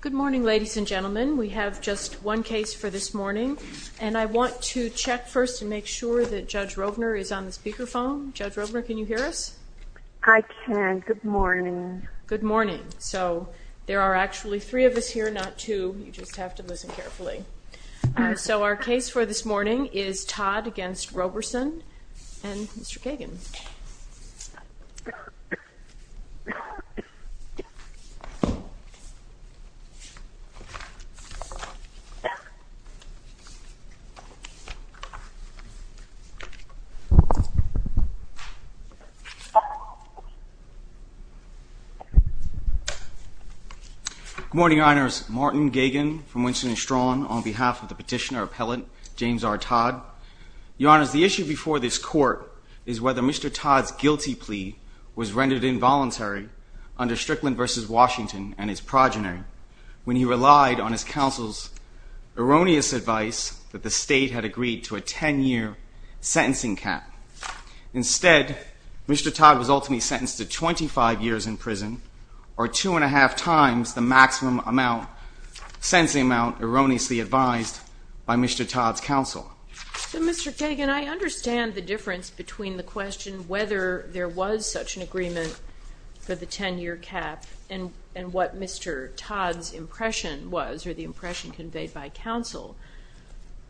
Good morning ladies and gentlemen. We have just one case for this morning and I want to check first and make sure that Judge Rovner is on the speakerphone. Judge Rovner can you hear us? I can, good morning. Good morning. So there are actually three of us here not two, you just have to listen carefully. So our case for this morning is Todd v. Roberson and Mr. Gagin. Good morning Your Honors, Martin Gagin from Winston & Strawn on behalf of the is whether Mr. Todd's guilty plea was rendered involuntary under Strickland v. Washington and his progeny when he relied on his counsel's erroneous advice that the state had agreed to a 10-year sentencing cap. Instead, Mr. Todd was ultimately sentenced to 25 years in prison or two and a half times the maximum amount, sentencing amount erroneously advised by Mr. Todd's counsel. So Mr. Gagin, I understand the difference between the question whether there was such an agreement for the 10-year cap and what Mr. Todd's impression was or the impression conveyed by counsel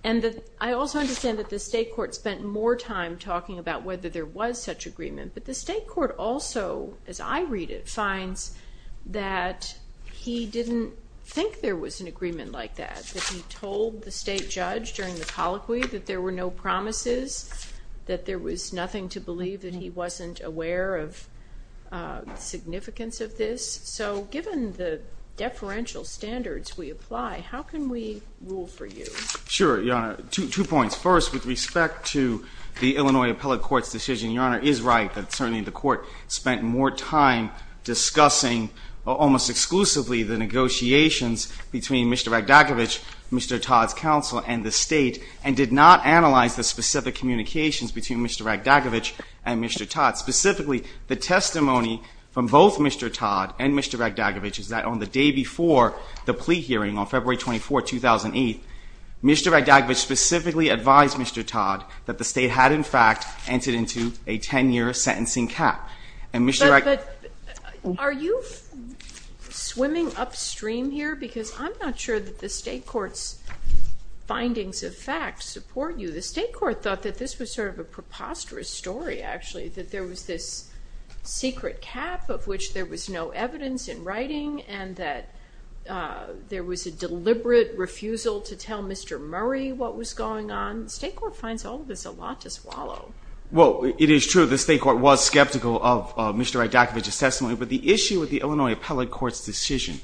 and I also understand that the state court spent more time talking about whether there was such agreement but the state court also, as I read it, finds that he didn't think there was an agreement like that, that he told the state judge during the colloquy that there were no promises, that there was nothing to believe, that he wasn't aware of the significance of this. So given the deferential standards we apply, how can we rule for you? Sure, Your Honor. Two points. First, with respect to the Illinois Appellate Court's decision, Your Honor is right that certainly the court spent more time discussing almost exclusively the negotiations between Mr. Raghdagavich, Mr. Todd's counsel, and the state and did not analyze the specific communications between Mr. Raghdagavich and Mr. Todd. Specifically, the testimony from both Mr. Todd and Mr. Raghdagavich is that on the day before the plea hearing on February 24, 2008, Mr. Raghdagavich specifically advised Mr. Todd that the state had in fact entered into a 10-year sentencing cap and Mr. Raghdagavich- But are you swimming upstream here? Because I'm not sure that the state court's findings of fact support you. The state court thought that this was sort of a preposterous story actually, that there was this secret cap of which there was no evidence in writing and that there was a deliberate refusal to tell Mr. Murray what was going on. The state court finds all of this a lot to swallow. Well, it is true the state court was skeptical of Mr. Raghdagavich's testimony, but the issue with the Illinois Appellate Court's decision,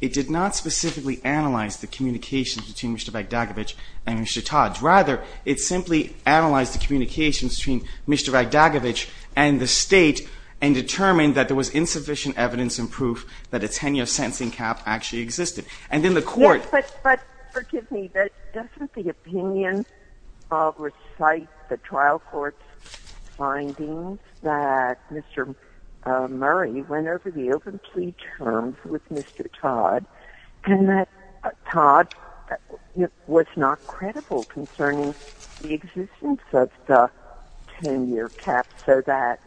it did not specifically analyze the communications between Mr. Raghdagavich and Mr. Todd. Rather, it simply analyzed the communications between Mr. Raghdagavich and the state and determined that there was insufficient evidence and proof that a 10-year sentencing cap actually existed. And then the court- Yes, but forgive me, but doesn't the opinion recite the trial court's findings that Mr. Murray went over the open plea terms with Mr. Todd and that Todd was not credible concerning the existence of the 10-year cap so that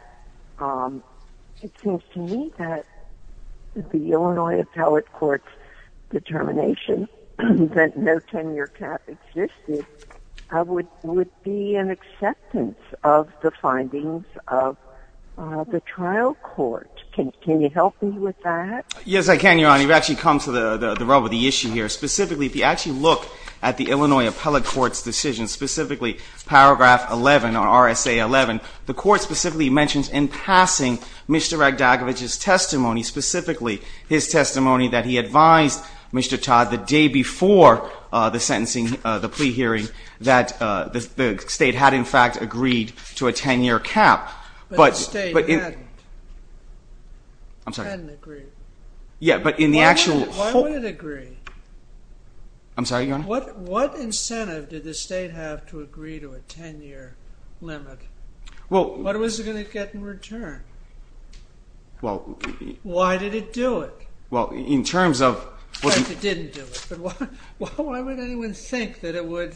it seems to me that the Illinois Appellate Court's determination that no 10-year cap existed would be an acceptance of the findings of the trial court. Can you help me with that? Yes, I can, Your Honor. You've actually come to the rub of the issue here. Specifically, if you actually look at the Illinois Appellate Court's decision, specifically paragraph 11 on RSA 11, the court specifically mentions in passing Mr. Raghdagavich's testimony, specifically his testimony that he advised Mr. Todd the day before the sentencing, the plea hearing, that the state had in fact agreed to a 10-year cap. But- But the state hadn't. I'm sorry. Hadn't agreed. Yeah, but in the actual- Why would it agree? I'm sorry, Your Honor? What incentive did the state have to agree to a 10-year limit? What was it going to get in return? Why did it do it? Well, in terms of- In fact, it didn't do it. But why would anyone think that it would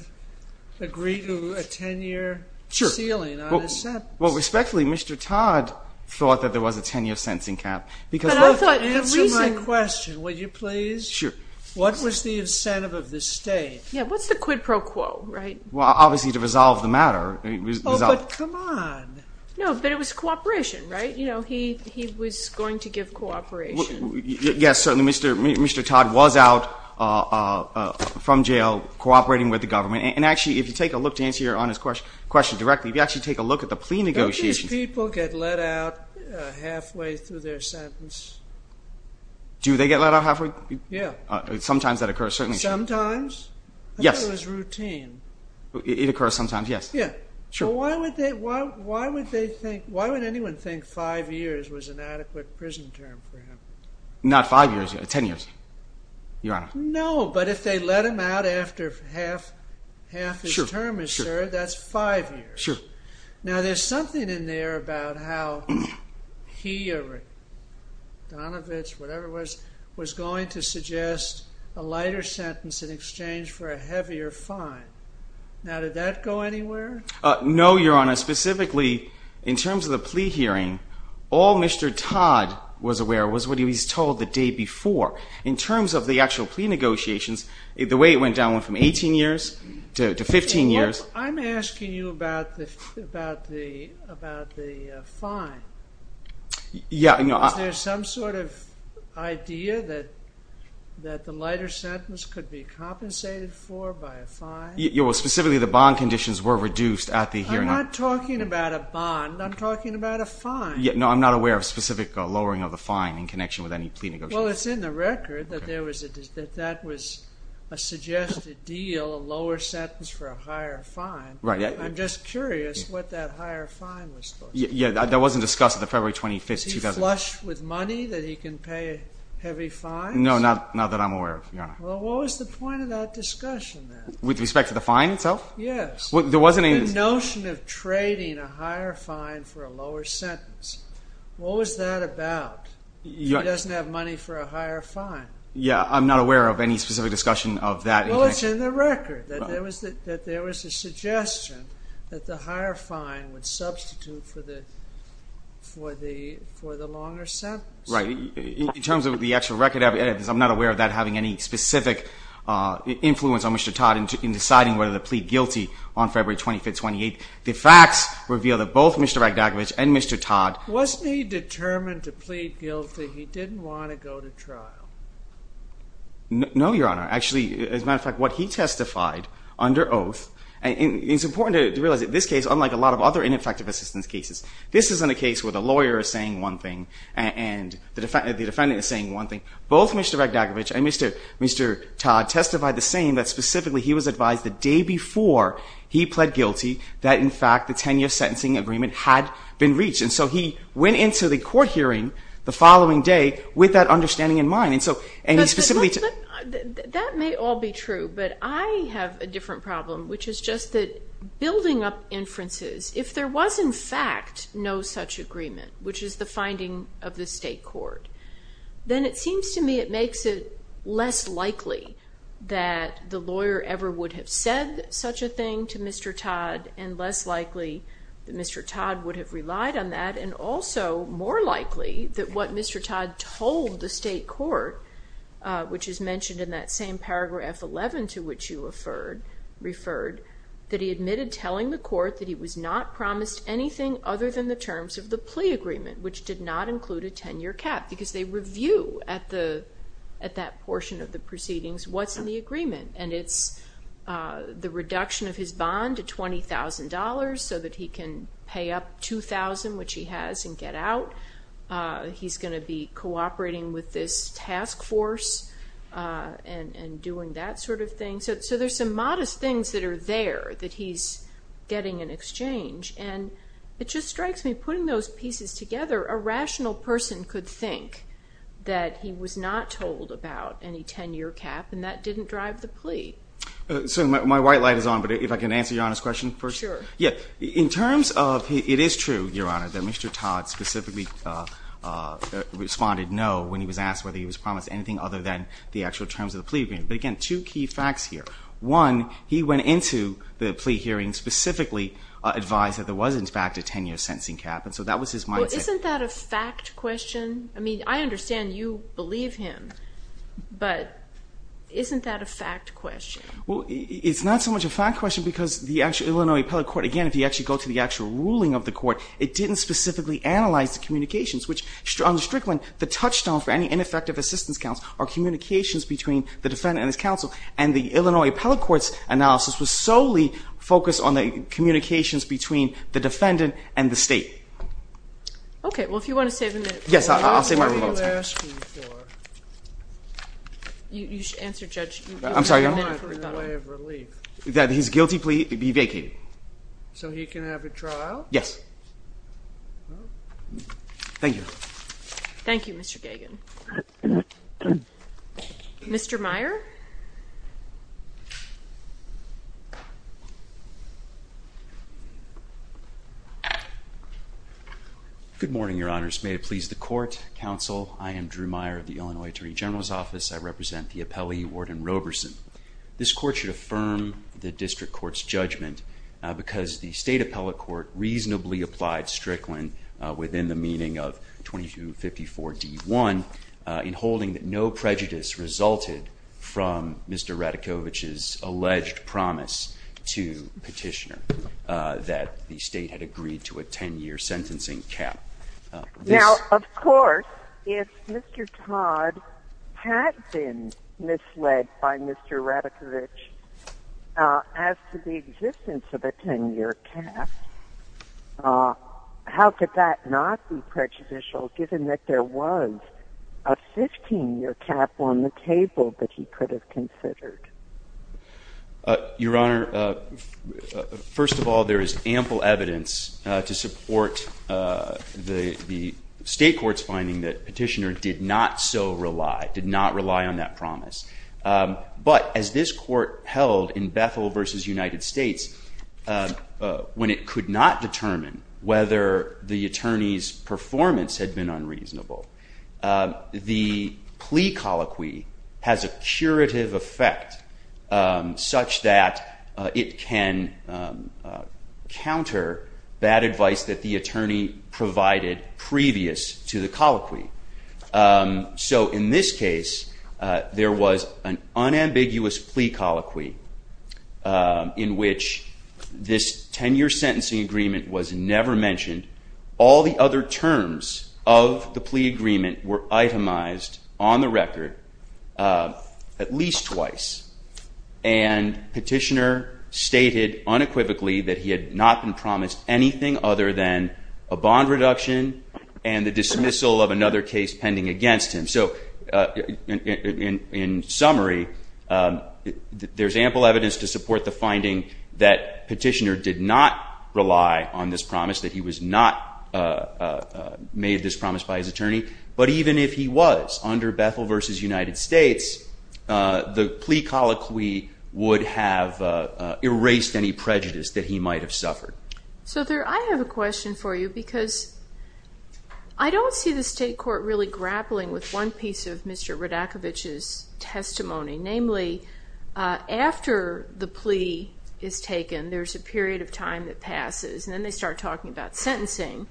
agree to a 10-year ceiling on a sentence? Well, respectfully, Mr. Todd thought that there was a 10-year sentencing cap because- But I thought the reason- Answer my question, would you please? Sure. What was the incentive of the state? Yeah, what's the quid pro quo, right? Well, obviously to resolve the matter, it was- Oh, but come on. No, but it was cooperation, right? You know, he was going to give cooperation. Yes, certainly, Mr. Todd was out from jail cooperating with the government. And actually, if you take a look to answer Your Honor's question directly, if you actually take a look at the plea negotiations- Don't these people get let out halfway through their sentence? Do they get let out halfway? Yeah. Sometimes that occurs, certainly. Sometimes? Yes. So it was routine? It occurs sometimes, yes. Yeah. Sure. Why would anyone think five years was an adequate prison term for him? Not five years, 10 years, Your Honor. No, but if they let him out after half his term is served, that's five years. Sure. Now, there's something in there about how he or Donovitz, whatever it was, was going to suggest a lighter sentence in exchange for a heavier fine. Now, did that go anywhere? No, Your Honor. Specifically, in terms of the plea hearing, all Mr. Todd was aware of was what he was told the day before. In terms of the actual plea negotiations, the way it went down went from 18 years to 15 years. I'm asking you about the fine. Yeah, I know. Is there some sort of idea that the lighter sentence could be compensated for by a fine? Yeah, well, specifically, the bond conditions were reduced at the hearing. I'm not talking about a bond. I'm talking about a fine. No, I'm not aware of specific lowering of the fine in connection with any plea negotiations. Well, it's in the record that that was a suggested deal, a lower sentence for a higher fine. Right. I'm just curious what that higher fine was. Yeah, that wasn't discussed at the February 25th, 2001. With money that he can pay heavy fines? No, not that I'm aware of, Your Honor. Well, what was the point of that discussion, then? With respect to the fine itself? Yes. There wasn't any... The notion of trading a higher fine for a lower sentence. What was that about? He doesn't have money for a higher fine. Yeah, I'm not aware of any specific discussion of that. Well, it's in the record that there was a suggestion that the higher fine would substitute for the longer sentence. Right. In terms of the actual record evidence, I'm not aware of that having any specific influence on Mr. Todd in deciding whether to plead guilty on February 25th, 2008. The facts reveal that both Mr. Ragnacovic and Mr. Todd... Wasn't he determined to plead guilty? He didn't want to go to trial. No, Your Honor. Actually, as a matter of fact, what he testified under oath... It's important to realize that this case, unlike a lot of other ineffective assistance cases, this isn't a case where the lawyer is saying one thing and the defendant is saying one thing. Both Mr. Ragnacovic and Mr. Todd testified the same, that specifically he was advised the day before he pled guilty that, in fact, the 10-year sentencing agreement had been reached. And so he went into the court hearing the following day with that understanding in mind. And he specifically... That may all be true, but I have a different problem, which is just that building up inferences, if there was, in fact, no such agreement, which is the finding of the state court, then it seems to me it makes it less likely that the lawyer ever would have said such a thing to Mr. Todd and less likely that Mr. Todd would have relied on that and also more likely that what Mr. Todd told the state court, which is mentioned in that same paragraph 11 to which you referred, that he admitted telling the court that he was not promised anything other than the terms of the plea agreement, which did not include a 10-year cap because they review at that portion of the proceedings what's in the agreement. And it's the reduction of his bond to $20,000 so that he can pay up 2,000, which he has, and get out. He's going to be cooperating with this task force and doing that sort of thing. So there's some modest things that are there that he's getting in exchange. And it just strikes me, putting those pieces together, a rational person could think that he was not told about any 10-year cap and that didn't drive the plea. So my white light is on, but if I can answer Your Honor's question first? Sure. Yeah. In terms of, it is true, Your Honor, that Mr. Todd specifically responded no when he was asked whether he was promised anything other than the actual terms of the plea agreement. But again, two key facts here. One, he went into the plea hearing specifically advised that there was, in fact, a 10-year sentencing cap. And so that was his mindset. Well, isn't that a fact question? I mean, I understand you believe him, but isn't that a fact question? Well, it's not so much a fact question because the actual Illinois Appellate Court, again, if you actually go to the actual ruling of the court, it didn't specifically analyze the communications, which on the strict one, the touchstone for any ineffective assistance are communications between the defendant and his counsel. And the Illinois Appellate Court's analysis was solely focused on the communications between the defendant and the state. Okay. Well, if you want to save a minute. Yes, I'll save my rebuttal time. What were you asking for? You should answer, Judge. I'm sorry, Your Honor. You were asking for a way of relief. That his guilty plea be vacated. So he can have a trial? Yes. Thank you. Thank you, Mr. Gagin. Okay. Mr. Meyer. Good morning, Your Honors. May it please the court, counsel. I am Drew Meyer of the Illinois Attorney General's Office. I represent the appellee, Warden Roberson. This court should affirm the district court's judgment because the state appellate court reasonably applied strickland within the meaning of 2254 D1 in holding that no prejudice resulted from Mr. Radakovich's alleged promise to petitioner that the state had agreed to a 10-year sentencing cap. Now, of course, if Mr. Todd had been misled by Mr. Radakovich as to the existence of a 10-year cap, how could that not be prejudicial, given that there was a 15-year cap on the table that he could have considered? Your Honor, first of all, there is ample evidence to support the state court's finding that petitioner did not so rely, did not rely on that promise. But as this court held in Bethel versus United States, when it could not determine whether the attorney's performance had been unreasonable, the plea colloquy has a curative effect such that it can counter bad advice that the attorney provided previous to the colloquy. So in this case, there was an unambiguous plea colloquy in which this 10-year sentencing agreement was never mentioned. All the other terms of the plea agreement were itemized on the record at least twice. And petitioner stated unequivocally that he had not been promised anything other than a bond reduction and the dismissal of another case pending against him. So in summary, there's ample evidence to support the finding that petitioner did not rely on this promise, that he was not made this promise by his attorney. But even if he was under Bethel versus United States, the plea colloquy would have erased any prejudice that he might have suffered. So there I have a question for you because I don't see the state court really grappling with one piece of Mr. Rudakovich's testimony. Namely, after the plea is taken, there's a period of time that passes. And then they start talking about sentencing.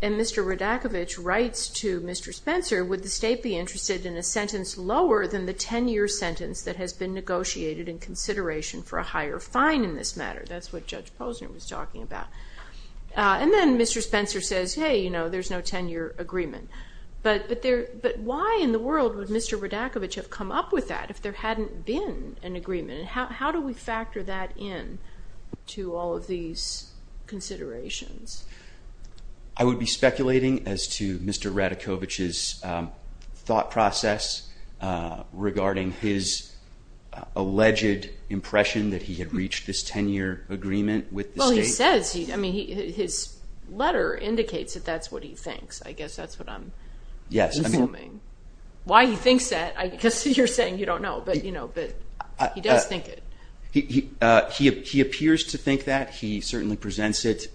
And Mr. Rudakovich writes to Mr. Spencer, would the state be interested in a sentence lower than the 10-year sentence that has been negotiated in consideration for a higher fine in this matter? That's what Judge Posner was talking about. And then Mr. Spencer says, hey, there's no 10-year agreement. But why in the world would Mr. Rudakovich have come up with that if there hadn't been an agreement? And how do we factor that in? To all of these considerations. I would be speculating as to Mr. Rudakovich's thought process regarding his alleged impression that he had reached this 10-year agreement with the state. Well, he says, I mean, his letter indicates that that's what he thinks. I guess that's what I'm assuming. Why he thinks that, I guess you're saying you don't know. But he does think it. He appears to think that. He certainly presents it.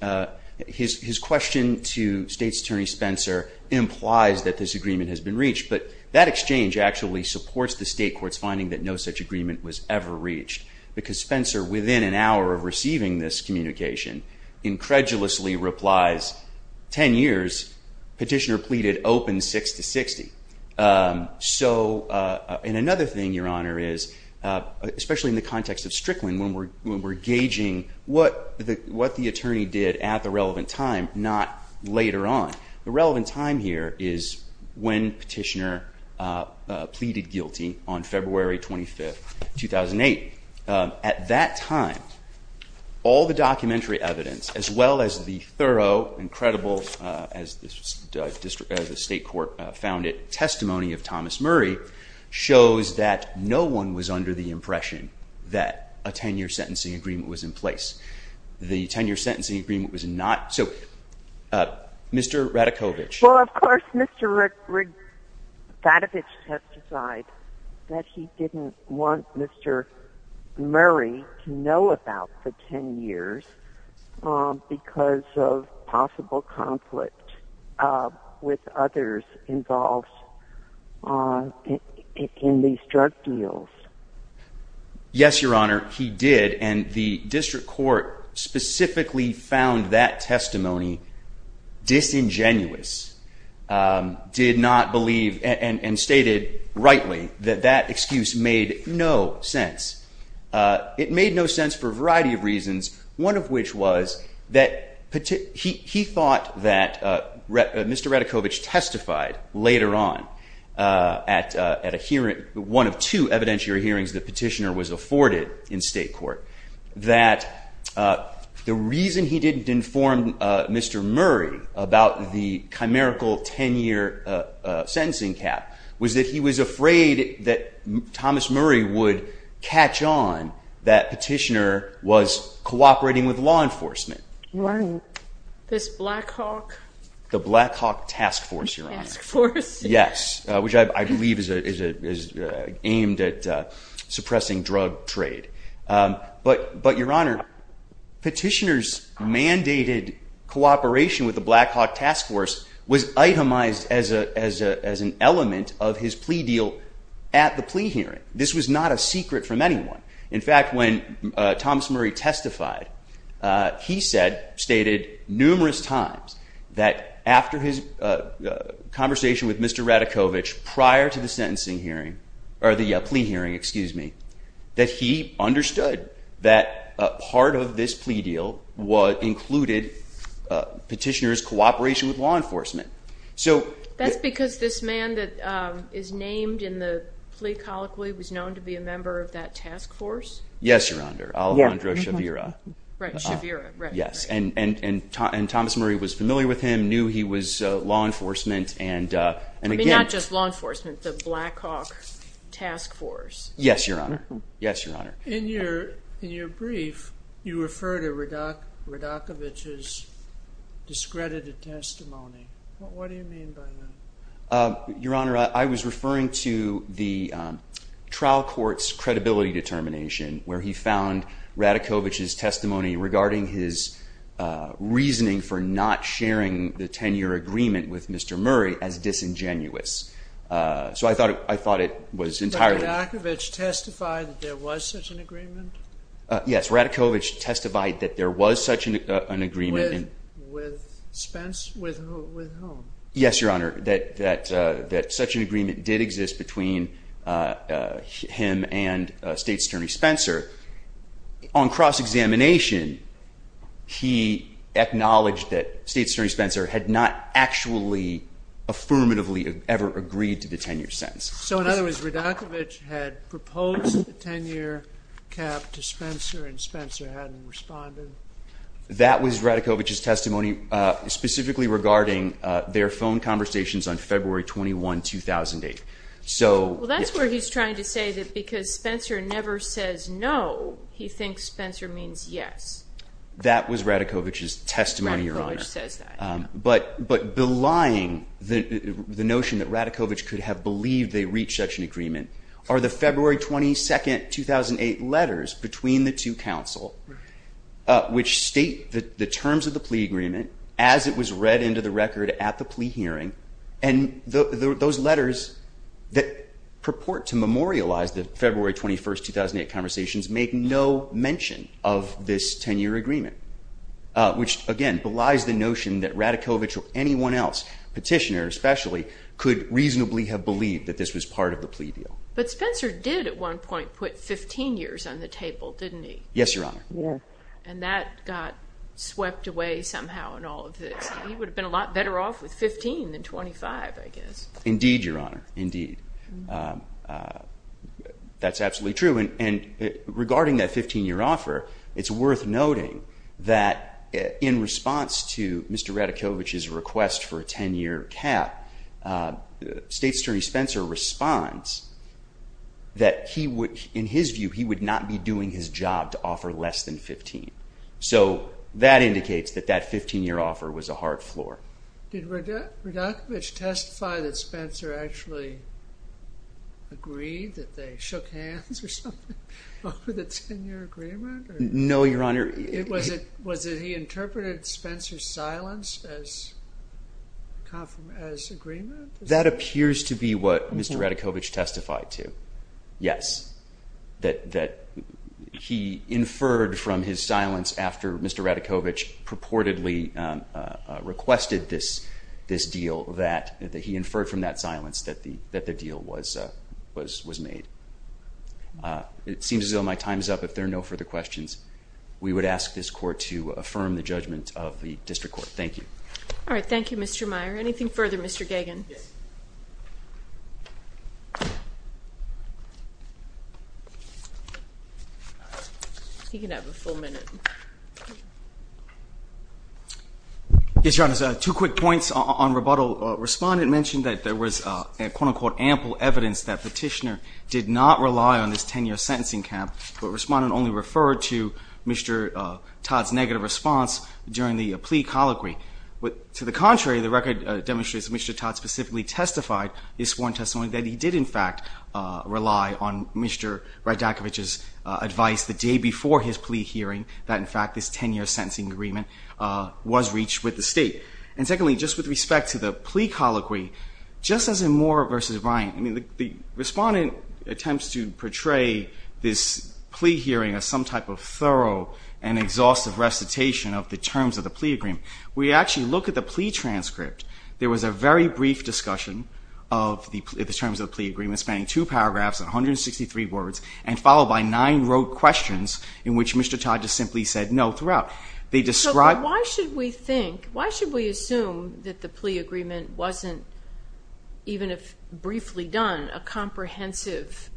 His question to State's Attorney Spencer implies that this agreement has been reached. But that exchange actually supports the state court's finding that no such agreement was ever reached. Because Spencer, within an hour of receiving this communication, incredulously replies, 10 years. Petitioner pleaded open 6 to 60. So and another thing, Your Honor, is, especially in the context of Strickland, when we're gauging what the attorney did at the relevant time, not later on. The relevant time here is when Petitioner pleaded guilty on February 25, 2008. At that time, all the documentary evidence, as well as the thorough and credible, as the state court found it, testimony of Thomas Murray, shows that no one was under the impression that a 10-year sentencing agreement was in place. The 10-year sentencing agreement was not. So Mr. Ratajkowicz. Well, of course, Mr. Ratajkowicz has decided that he didn't want Mr. Murray to know about the 10 years because of possible conflict with others involved in these drug deals. Yes, Your Honor, he did. And the district court specifically found that testimony disingenuous. Did not believe, and stated rightly, that that excuse made no sense. It made no sense for a variety of reasons, one of which was that he thought that Mr. Ratajkowicz testified later on at a hearing, one of two evidentiary hearings that Petitioner was afforded in state court, that the reason he didn't inform Mr. Murray about the chimerical 10-year sentencing cap was that he was afraid that Thomas Murray would catch on that Petitioner was cooperating with law enforcement. Right. This Blackhawk. The Blackhawk task force, Your Honor. Task force. Yes, which I believe is aimed at suppressing drug trade. But, Your Honor, Petitioner's mandated cooperation with the Blackhawk task force was itemized as an element of his plea deal at the plea hearing. This was not a secret from anyone. In fact, when Thomas Murray testified, he said, stated numerous times that after his conversation with Mr. Ratajkowicz prior to the sentencing hearing, or the plea hearing, excuse me, that he understood that part of this plea deal included Petitioner's cooperation with law enforcement. That's because this man that is named in the plea colloquy was known to be a member of that task force? Yes, Your Honor, Alejandro Shavira. Right, Shavira. Yes, and Thomas Murray was familiar with him, knew he was law enforcement, and again- I mean, not just law enforcement, the Blackhawk task force. Yes, Your Honor. Yes, Your Honor. In your brief, you refer to Ratajkowicz's discredited testimony. What do you mean by that? Your Honor, I was referring to the trial court's credibility determination, where he found Ratajkowicz's testimony regarding his reasoning for not sharing the 10-year agreement with Mr. Murray as disingenuous. So I thought it was entirely- Did Ratajkowicz testify that there was such an agreement? Yes, Ratajkowicz testified that there was such an agreement- With Spence? With whom? Yes, Your Honor, that such an agreement did exist between him and State's Attorney Spencer. On cross-examination, he acknowledged that State's Attorney Spencer had not actually affirmatively ever agreed to the 10-year sentence. So in other words, Ratajkowicz had proposed the 10-year cap to Spencer, and Spencer hadn't responded? That was Ratajkowicz's testimony specifically regarding their phone conversations on February 21, 2008. Well, that's where he's trying to say that because Spencer never says no, he thinks Spencer means yes. That was Ratajkowicz's testimony, Your Honor. Ratajkowicz says that. But belying the notion that Ratajkowicz could have believed they reached such an agreement are the February 22, 2008 letters between the two counsel, which state the terms of the plea agreement as it was read into the record at the plea hearing, and those letters that purport to memorialize the February 21, 2008 conversations make no mention of this 10-year agreement, which, again, belies the notion that Ratajkowicz or anyone else, petitioner especially, could reasonably have believed that this was part of the plea deal. But Spencer did at one point put 15 years on the table, didn't he? Yes, Your Honor. And that got swept away somehow in all of this. He would have been a lot better off with 15 than 25, I guess. Indeed, Your Honor, indeed. That's absolutely true. And regarding that 15-year offer, it's worth noting that in response to Mr. Ratajkowicz's request for a 10-year cap, State Attorney Spencer responds that he would, in his view, he would not be doing his job to offer less than 15. So that indicates that that 15-year offer was a hard floor. Did Ratajkowicz testify that Spencer actually agreed that they shook hands or something over the 10-year agreement? No, Your Honor. Was it he interpreted Spencer's silence as agreement? That appears to be what Mr. Ratajkowicz testified to. Yes, that he inferred from his silence after Mr. Ratajkowicz purportedly requested this deal, that he inferred from that silence that the deal was made. It seems as though my time is up. If there are no further questions, we would ask this Court to affirm the judgment of the District Court. Thank you. All right. Thank you, Mr. Meyer. Anything further, Mr. Gagin? Yes. He can have a full minute. Yes, Your Honor. Two quick points on rebuttal. Respondent mentioned that there was, quote-unquote, ample evidence that petitioner did not rely on this 10-year sentencing cap, but Respondent only referred to Mr. Todd's negative response during the plea colloquy. To the contrary, the record demonstrates that Mr. Todd specifically testified in his sworn rely on Mr. Ratajkowicz's advice the day before his plea hearing that, in fact, this 10-year sentencing agreement was reached with the State. And secondly, just with respect to the plea colloquy, just as in Moore v. Ryan, I mean, the Respondent attempts to portray this plea hearing as some type of thorough and exhaustive recitation of the terms of the plea agreement. We actually look at the plea transcript. There was a very brief discussion of the terms of the plea agreement, spanning two paragraphs and 163 words, and followed by nine rote questions in which Mr. Todd just simply said, no, throughout. Why should we assume that the plea agreement wasn't, even if briefly done, a comprehensive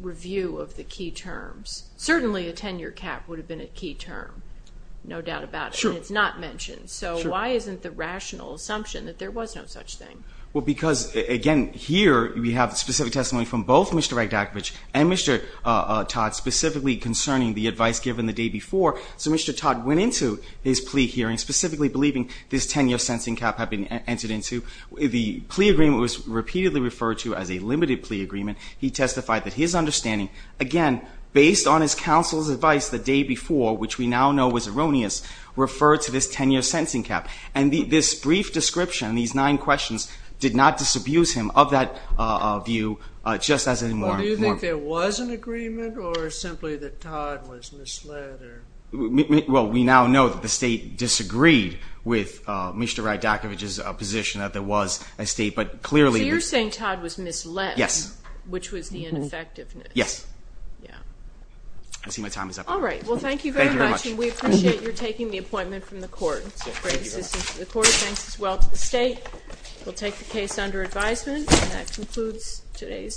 review of the key terms? Certainly, a 10-year cap would have been a key term, no doubt about it, and it's not mentioned. So why isn't the rational assumption that there was no such thing? Well, because, again, here we have specific testimony from both Mr. Ratajkowicz and Mr. Todd specifically concerning the advice given the day before. So Mr. Todd went into his plea hearing specifically believing this 10-year sentencing cap had been entered into. The plea agreement was repeatedly referred to as a limited plea agreement. He testified that his understanding, again, based on his counsel's advice the day before, which we now know was erroneous, referred to this 10-year sentencing cap. And this brief description, these nine questions, did not disabuse him of that view, just as any more important. Well, do you think there was an agreement, or simply that Todd was misled? Well, we now know that the state disagreed with Mr. Ratajkowicz's position that there was a state, but clearly— So you're saying Todd was misled. Yes. Which was the ineffectiveness. Yes. Yeah. I see my time is up. All right. Well, thank you very much, and we appreciate your taking the appointment from the court. It's a great assistance to the court. Thanks as well to the state. We'll take the case under advisement, and that concludes today's session.